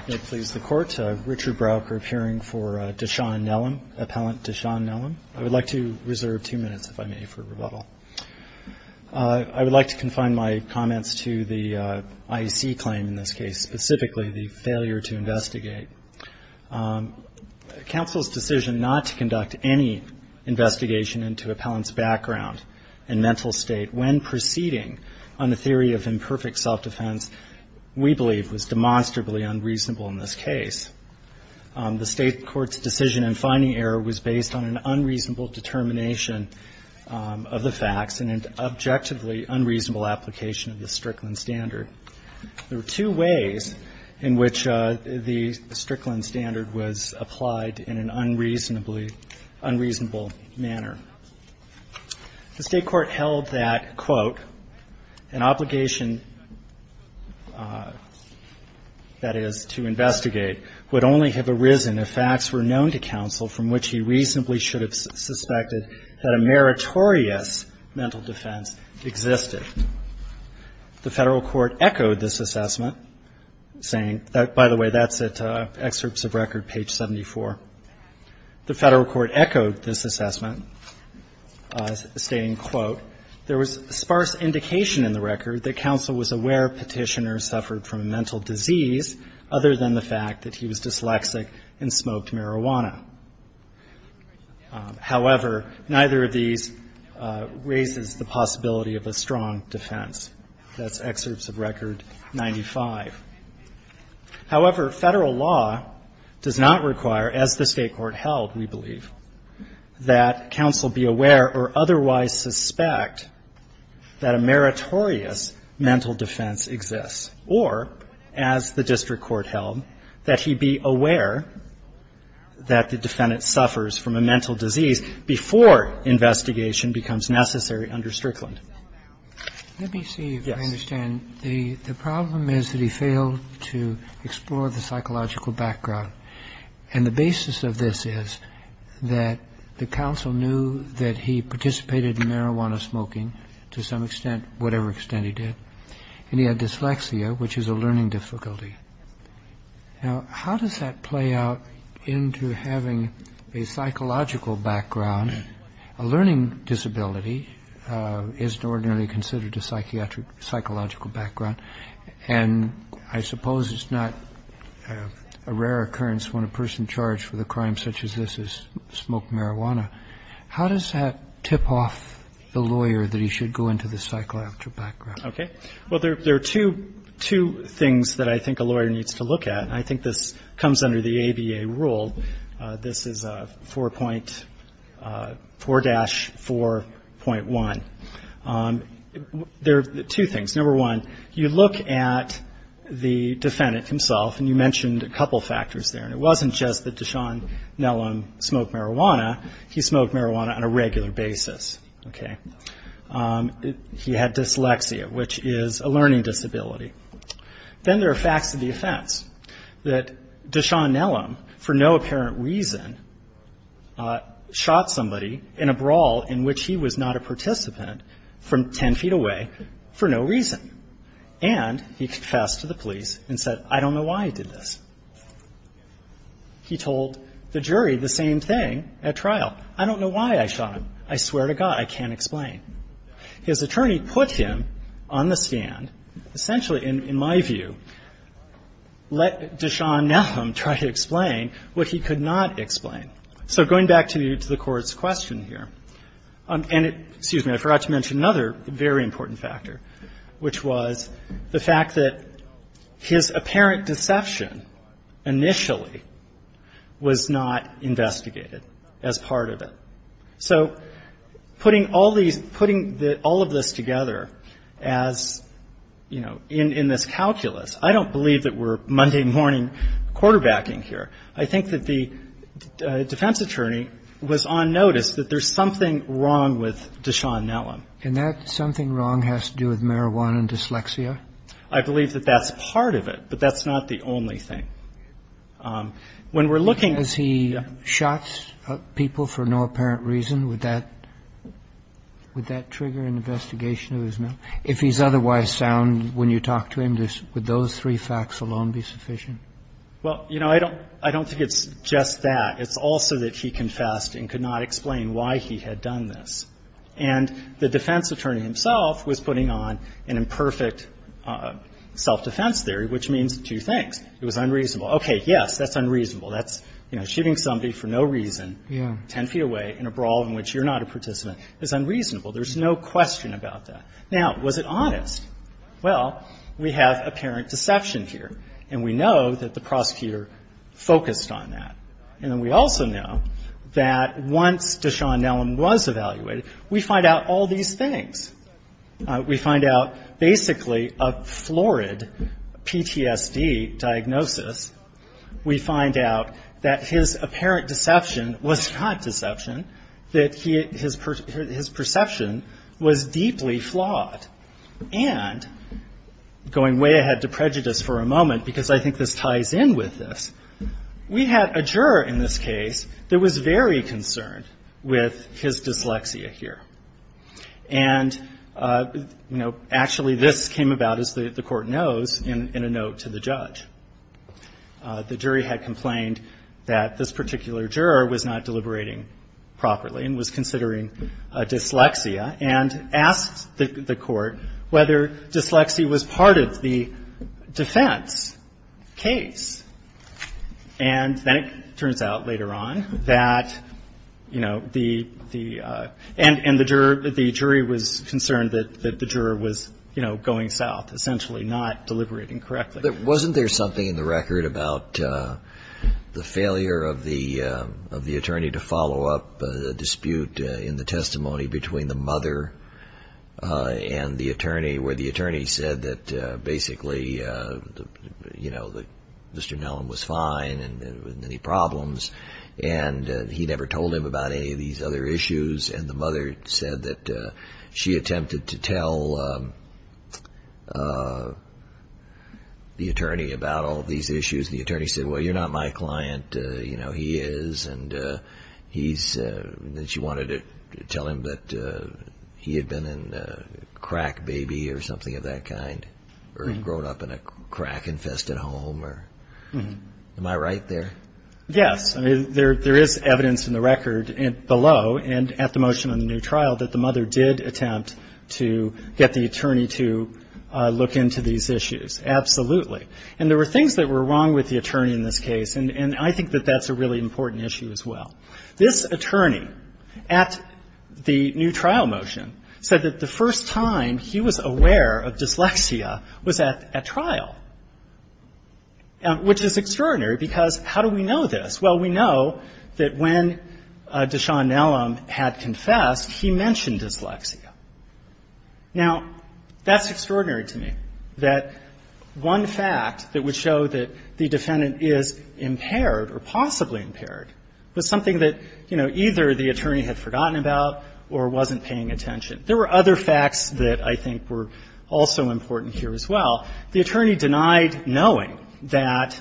I would like to reserve two minutes, if I may, for rebuttal. I would like to confine my comments to the IEC claim in this case, specifically the failure to investigate. Counsel's decision not to conduct any investigation into appellant's background and mental state when proceeding on the theory of imperfect self-defense we believe was demonstrably unreasonable in this case. The State Court's decision in finding error was based on an unreasonable determination of the facts and an objectively unreasonable application of the Strickland standard. There were two ways in which the Strickland standard was applied in an unreasonably unreasonable manner. The State Court held that, quote, an obligation, that is, to investigate would only have arisen if facts were known to counsel from which he reasonably should have suspected that a meritorious mental defense existed. The Federal Court echoed this assessment, saying that, by the way, that's at Excerpts of Record, page 74. The Federal Court echoed this assessment, stating, quote, there was sparse indication in the record that counsel was aware Petitioner suffered from a mental other than the fact that he was dyslexic and smoked marijuana. However, neither of these raises the possibility of a strong defense. That's Excerpts of Record 95. However, Federal law does not require, as the State Court held, we believe, that counsel be aware or otherwise suspect that a meritorious mental defense exists, or, as the district court held, that he be aware that the defendant suffers from a mental disease before investigation becomes necessary under Strickland. Roberts. Let me see if I understand. The problem is that he failed to explore the psychological background. And the basis of this is that the counsel knew that he participated in marijuana smoking to some extent, whatever extent he did, and he had dyslexia, which is a learning difficulty. Now, how does that play out into having a psychological background? A learning disability is ordinarily considered a psychological background, and I suppose it's not a rare occurrence when a person charged with a crime such as this has smoked marijuana. How does that tip off the lawyer that he should go into the psychological background? Okay. Well, there are two things that I think a lawyer needs to look at, and I think this comes under the ABA rule. This is 4.4-4.1. There are two things. Number one, you look at the defendant himself, and you mentioned a couple of factors there, and it wasn't just that Deshaun Nellam smoked marijuana. He smoked marijuana on a regular basis. Okay. He had dyslexia, which is a learning disability. Then there are facts of the offense, that Deshaun Nellam, for no apparent reason, shot somebody in a brawl in which he was not a participant from ten feet away for no reason. And he confessed to the police and said, I don't know why he did this. He told the jury the same thing at trial. I don't know why I shot him. I swear to God, I can't explain. His attorney put him on the stand, essentially, in my view, let Deshaun Nellam try to explain what he could not explain. So going back to the Court's question here, and it --- which was the fact that his apparent deception initially was not investigated as part of it. So putting all these -- putting all of this together as, you know, in this calculus, I don't believe that we're Monday morning quarterbacking here. I think that the defense attorney was on notice that there's something wrong with Deshaun Nellam. And that something wrong has to do with marijuana and dyslexia? I believe that that's part of it, but that's not the only thing. When we're looking at the ---- Has he shot people for no apparent reason? Would that trigger an investigation of his? If he's otherwise sound, when you talk to him, would those three facts alone be sufficient? Well, you know, I don't think it's just that. It's also that he confessed and could not explain why he had done this. And the defense attorney himself was putting on an imperfect self-defense theory, which means two things. It was unreasonable. Okay, yes, that's unreasonable. That's, you know, shooting somebody for no reason 10 feet away in a brawl in which you're not a participant is unreasonable. There's no question about that. Now, was it honest? Well, we have apparent deception here, and we know that the prosecutor focused on that. And then we also know that once Deshaun Nellam was evaluated, we find out all these things. We find out basically a florid PTSD diagnosis. We find out that his apparent deception was not deception, that he ---- his perception was deeply flawed. And going way ahead to prejudice for a moment, because I think this ties in with this, we had a juror in this case that was very concerned with his dyslexia here. And, you know, actually this came about, as the Court knows, in a note to the judge. The jury had complained that this particular juror was not deliberating properly and was considering dyslexia and asked the Court whether dyslexia was part of the defense case. And then it turns out later on that, you know, the ---- and the juror, the jury was concerned that the juror was, you know, going south, essentially not deliberating correctly. Wasn't there something in the record about the failure of the attorney to follow up the dispute in the testimony between the mother and the attorney, where the attorney said that basically, you know, that Mr. Nellam was fine and didn't have any problems. And he never told him about any of these other issues. And the mother said that she attempted to tell the attorney about all these issues. And the attorney said, well, you're not my son. And she said that she wanted to tell him that he had been a crack baby or something of that kind or had grown up in a crack-infested home. Am I right there? Yes. I mean, there is evidence in the record below and at the motion on the new trial that the mother did attempt to get the attorney to look into these issues. Absolutely. And there were things that were wrong with the attorney in this case. And I think that that's a really important issue as well. This attorney at the new trial motion said that the first time he was aware of dyslexia was at trial, which is extraordinary, because how do we know this? Well, we know that when Deshaun Nellam had confessed, he mentioned dyslexia. Now, that's extraordinary to me, that one fact that would show that the defendant is impaired or possibly impaired was something that, you know, either the attorney had forgotten about or wasn't paying attention. There were other facts that I think were also important here as well. The attorney denied knowing that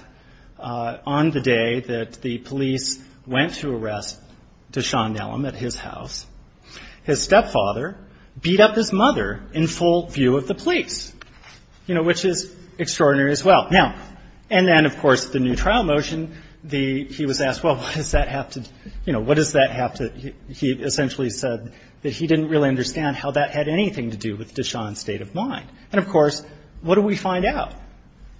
on the day that the police went to arrest Deshaun Nellam, the attitude of the police which is extraordinary as well. And then, of course, the new trial motion, he was asked, well, what does that have to, you know, what does that have to, he essentially said that he didn't really understand how that had anything to do with Deshaun's state of mind. And of course, what do we find out?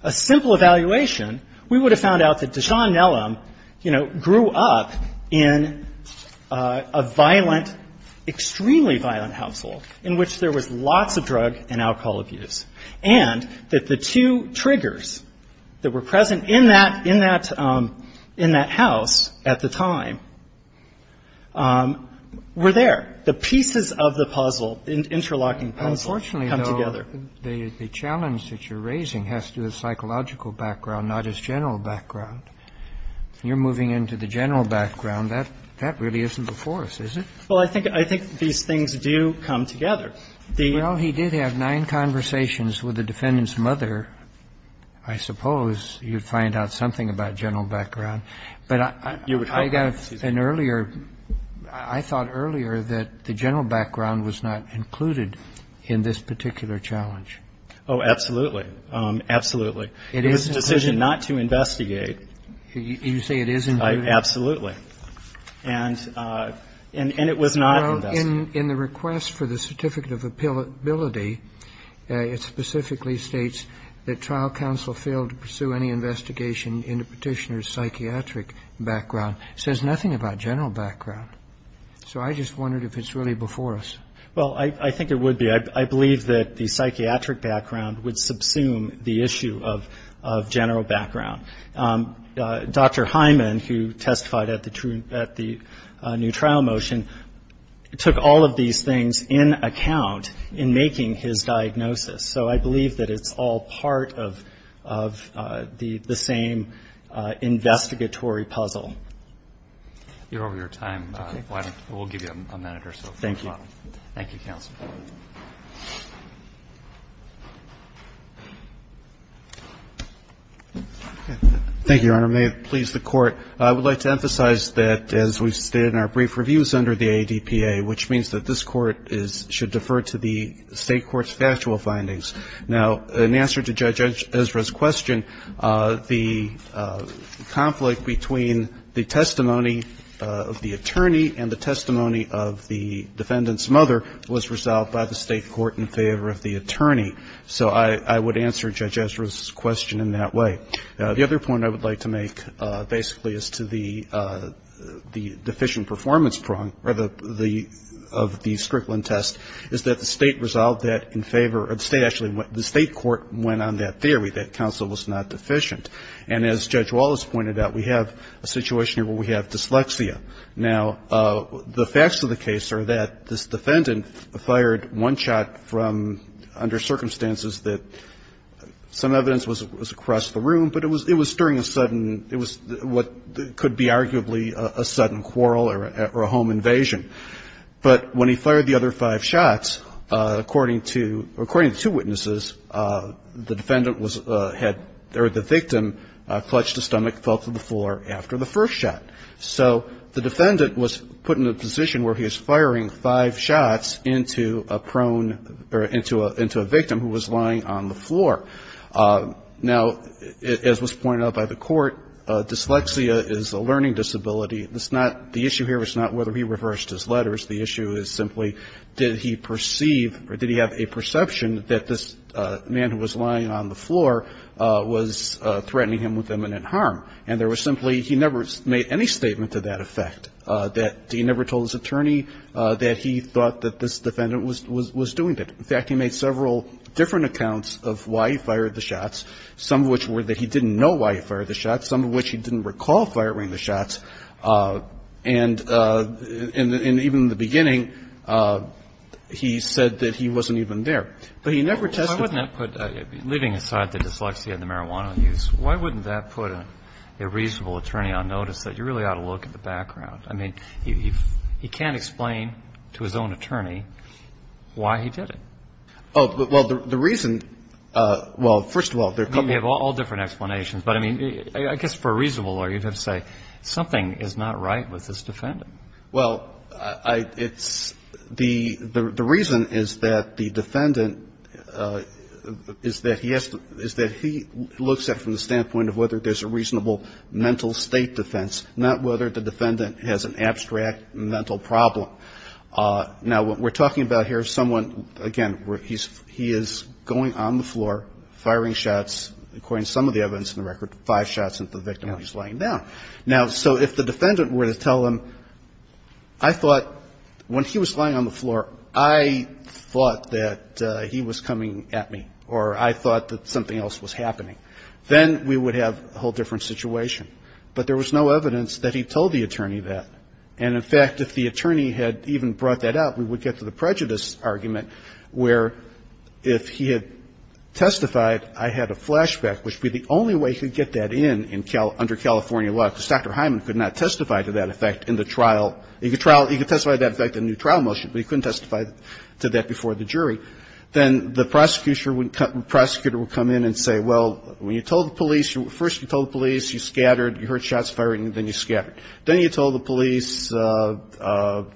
A simple evaluation, we would have found out that Deshaun And that the two triggers that were present in that, in that, in that house at the time were there. The pieces of the puzzle, interlocking puzzle, come together. Unfortunately, though, the challenge that you're raising has to do with psychological background, not his general background. You're moving into the general background. That really isn't before us, is it? Well, I think, I think these things do come together. Well, he did have nine conversations with the defendant's mother, I suppose. You'd find out something about general background. I thought earlier that the general background was not included in this particular challenge. Oh, absolutely. Absolutely. It was a decision not to investigate. You say it is included? Absolutely. And it was not investigated. In the request for the certificate of appellability, it specifically states that trial background would subsume the issue of general background. Dr. Hyman, who testified at the new trial motion, took all of these things in account in making his diagnosis. So I believe that it's all part of the same investigatory puzzle. You're over your time. We'll give you a minute or so. Thank you, Your Honor. May it please the Court. I would like to emphasize that, as we stated in our brief reviews under the ADPA, which means that this Court should defer to the State court's factual findings. Now, in answer to Judge Ezra's question, the conflict between the testimony of the attorney and the testimony of the defendant's mother was resolved by the State court in favor of the attorney. So I would answer Judge Ezra's question in that way. The other point I would like to make, basically, as to the deficient performance prong of the Strickland test, is that the State resolved that in favor of the State. Actually, the State court went on that theory, that counsel was not deficient. And as Judge Wallace pointed out, we have a situation here where we have dyslexia. Now, the facts of the case are that this defendant fired one shot from under circumstances that some evidence was across the room, but it was during a sudden, it was what could be arguably a sudden quarrel or a home invasion. But when he fired the other five shots, according to the two witnesses, the defendant was had or the victim clutched a stomach, fell to the floor after the first shot. So the defendant was put in a position where he was firing five shots into a prone or into a victim who was lying on the floor. Now, as was pointed out by the court, dyslexia is a learning disability. It's not the issue here is not whether he reversed his letters. The issue is simply did he perceive or did he have a perception that this man who was lying on the floor was threatening him with imminent harm. And there was simply he never made any statement to that effect, that he never told his attorney that he thought that this defendant was doing that. In fact, he made several different accounts of why he fired the shots, some of which were that he didn't know why he fired the shots, some of which he didn't recall firing the shots. And even in the beginning, he said that he wasn't even there. But he never tested him. So why wouldn't that put, leaving aside the dyslexia and the marijuana use, why wouldn't that put a reasonable attorney on notice that you really ought to look at the background? I mean, he can't explain to his own attorney why he did it. Oh, well, the reason, well, first of all, there are a couple of different explanations. But, I mean, I guess for a reasonable lawyer, you'd have to say something is not right with this defendant. Well, it's the reason is that the defendant is that he has to, is that he looks at from the standpoint of whether there's a reasonable mental state defense, not whether the defendant has an abstract mental problem. Now, what we're talking about here is someone, again, he is going on the floor, firing shots, according to some of the evidence in the record, five shots at the victim while he's lying down. Now, so if the defendant were to tell him, I thought when he was lying on the floor, I thought that he was coming at me, or I thought that something else was happening, then we would have a whole different situation. But there was no evidence that he told the attorney that. And, in fact, if the attorney had even brought that up, we would get to the prejudice argument where if he had testified, I had a flashback, which would be the only way he could testify, because Dr. Hyman could not testify to that effect in the trial. He could testify to that effect in the trial motion, but he couldn't testify to that before the jury. Then the prosecutor would come in and say, well, when you told the police, first you told the police, you scattered, you heard shots firing, then you scattered. Then you told the police, and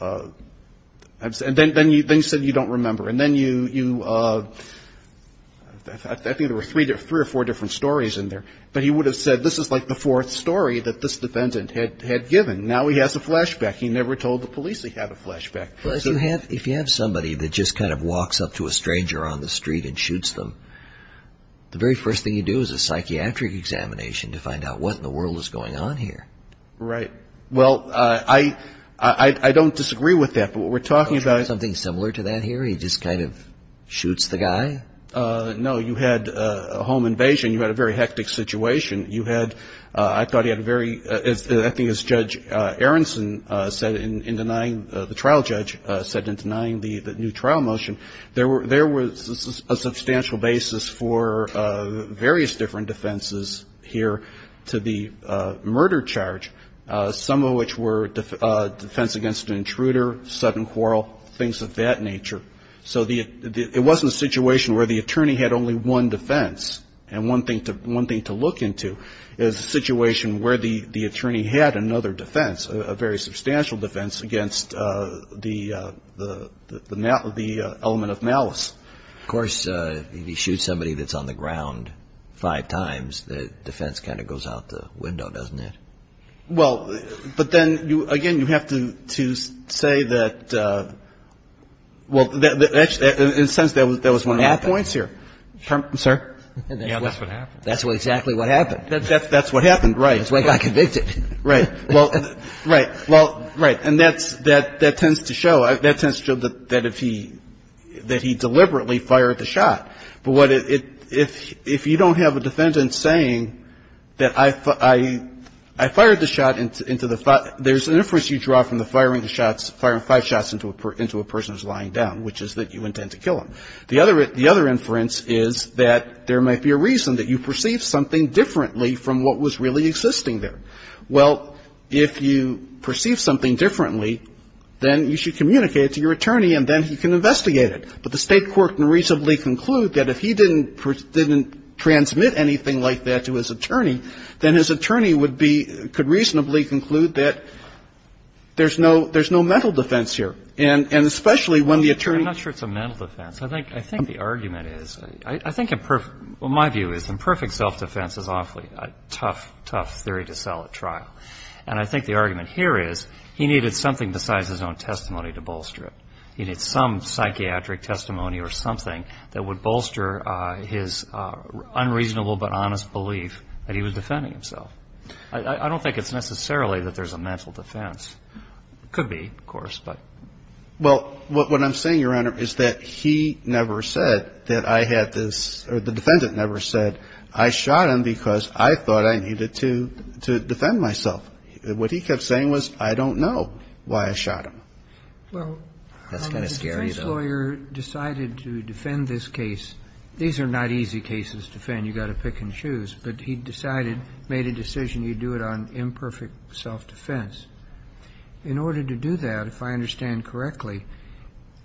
then you said you don't remember. And then you, I think there were three or four different stories in there. But he would have said, this is like the fourth story that this defendant had given. Now he has a flashback. He never told the police he had a flashback. Well, if you have somebody that just kind of walks up to a stranger on the street and shoots them, the very first thing you do is a psychiatric examination to find out what in the world is going on here. Right. Well, I don't disagree with that, but what we're talking about is... Something similar to that here? He just kind of shoots the guy? No. You had a home invasion. You had a very hectic situation. You had, I thought you had a very, I think as Judge Aronson said in denying, the trial judge said in denying the new trial motion, there was a substantial basis for various different defenses here to the murder charge, some of which were defense against an intruder, sudden quarrel, things of that nature. So it wasn't a situation where the attorney had only one defense. And one thing to look into is a situation where the attorney had another defense, a very substantial defense against the element of malice. Of course, if he shoots somebody that's on the ground five times, the defense kind of goes out the window, doesn't it? Well, but then, again, you have to say that, well, in a sense, that was one of my points here. Permission, sir? Yeah, that's what happened. That's exactly what happened. That's what happened, right. That's why he got convicted. Right. Well, right. Well, right. And that tends to show that if he, that he deliberately fired the shot. But what it, if you don't have a defendant saying that I fired the shot into the five, there's an inference you draw from the firing the shots, firing five shots into a person who's lying down, which is that you intend to kill him. The other inference is that there might be a reason that you perceived something differently from what was really existing there. Well, if you perceive something differently, then you should communicate it to your attorney, and then he can investigate it. But the State court can reasonably conclude that if he didn't transmit anything like that to his attorney, then his attorney would be, could reasonably conclude that there's no mental defense here. And especially when the attorney. I'm not sure it's a mental defense. I think the argument is, I think, well, my view is imperfect self-defense is awfully tough, tough theory to sell at trial. And I think the argument here is he needed something besides his own testimony to bolster it. He needed some psychiatric testimony or something that would bolster his unreasonable but honest belief that he was defending himself. I don't think it's necessarily that there's a mental defense. Could be, of course, but. Well, what I'm saying, Your Honor, is that he never said that I had this, or the defendant never said, I shot him because I thought I needed to defend myself. What he kept saying was, I don't know why I shot him. Well, the defense lawyer decided to defend this case. These are not easy cases to defend. You've got to pick and choose. But he decided, made a decision, you do it on imperfect self-defense. In order to do that, if I understand correctly,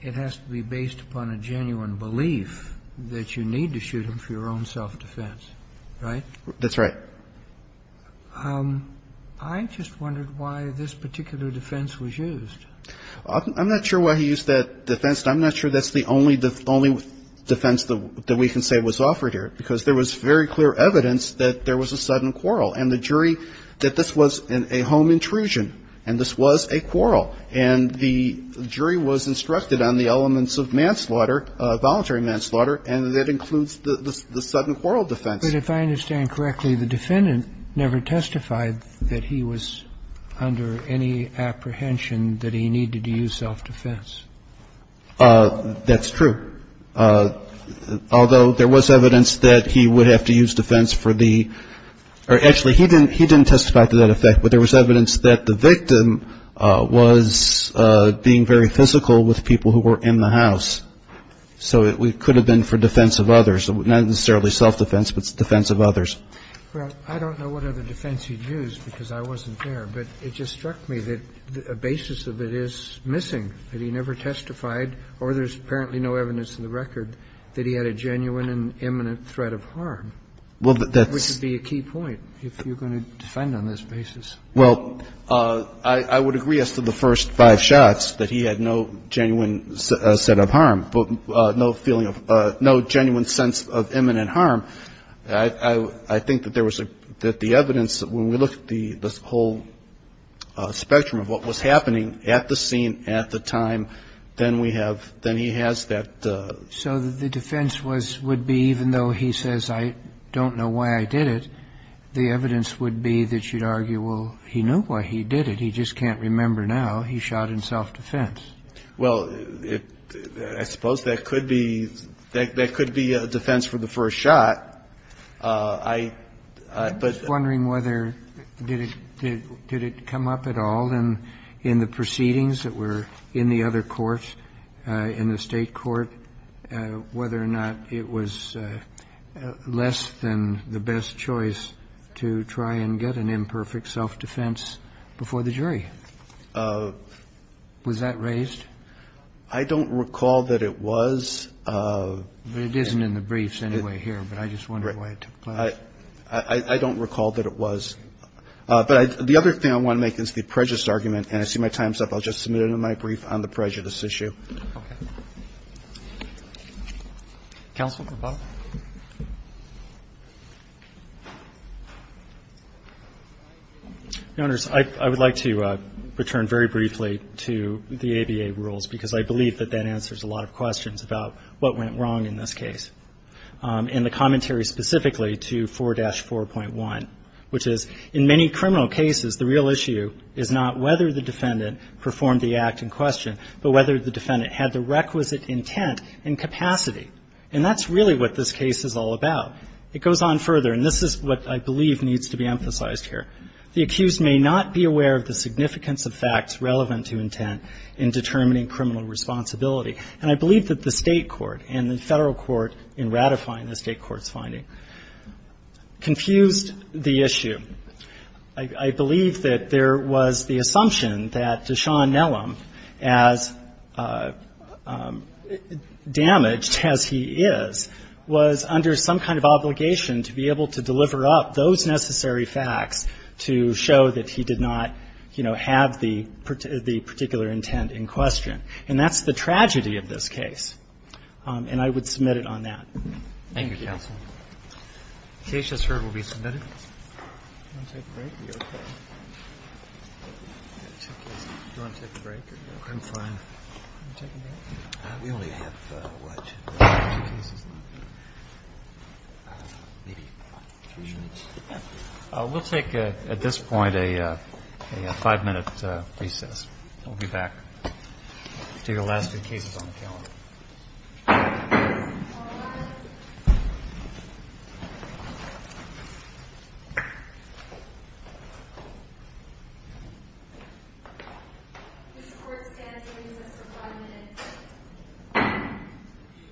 it has to be based upon a genuine belief that you need to shoot him for your own self-defense, right? That's right. I just wondered why this particular defense was used. I'm not sure why he used that defense. I'm not sure that's the only defense that we can say was offered here, because there was very clear evidence that there was a sudden quarrel, and the jury, that this was a home intrusion and this was a quarrel. And the jury was instructed on the elements of manslaughter, voluntary manslaughter, and that includes the sudden quarrel defense. But if I understand correctly, the defendant never testified that he was under any apprehension that he needed to use self-defense. That's true. Although there was evidence that he would have to use defense for the or actually he didn't testify to that effect, but there was evidence that the victim was being very physical with people who were in the house. So it could have been for defense of others, not necessarily self-defense, but defense of others. Well, I don't know what other defense he used because I wasn't there, but it just seems to me that a basis of it is missing, that he never testified or there's apparently no evidence in the record that he had a genuine and imminent threat of harm, which would be a key point if you're going to defend on this basis. Well, I would agree as to the first five shots that he had no genuine set of harm, no feeling of no genuine sense of imminent harm. I think that there was the evidence that when we look at the whole spectrum of what was happening at the scene at the time, then we have, then he has that. So the defense would be even though he says I don't know why I did it, the evidence would be that you'd argue, well, he knew why he did it. He just can't remember now. He shot in self-defense. Well, I suppose that could be a defense for the first shot. I'm just wondering whether did it come up at all in the proceedings that were in the other courts, in the State court, whether or not it was less than the best choice to try and get an imperfect self-defense before the jury. Was that raised? I don't recall that it was. But it isn't in the briefs anyway here, but I just wonder why it took place. I don't recall that it was. But the other thing I want to make is the prejudice argument, and I see my time's up. I'll just submit it in my brief on the prejudice issue. Okay. Counsel to the bottom. Your Honors, I would like to return very briefly to the ABA rules, because I believe that that answers a lot of questions about what went wrong in this case, and the commentary specifically to 4-4.1, which is, in many criminal cases, the real issue is not whether the defendant performed the act in question, but whether the defendant had the requisite intent and capacity. And that's really what this case is all about. It goes on further, and this is what I believe needs to be emphasized here. The accused may not be aware of the significance of facts relevant to intent in determining criminal responsibility. And I believe that the State court and the Federal court in ratifying the State court's finding confused the issue. I believe that there was the assumption that Deshaun Nellam, as damaged as he is, was under some kind of obligation to be able to deliver up those necessary facts to show that he did not, you know, have the particular intent in question. And that's the tragedy of this case. And I would submit it on that. Thank you. Thank you, counsel. The case, as heard, will be submitted. Do you want to take a break? Are you okay? Do you want to take a break? I'm fine. Do you want to take a break? We only have, what, two cases left? Maybe three minutes. We'll take, at this point, a five-minute recess. We'll be back to your last two cases on the calendar. All rise. This Court stands at recess for five minutes.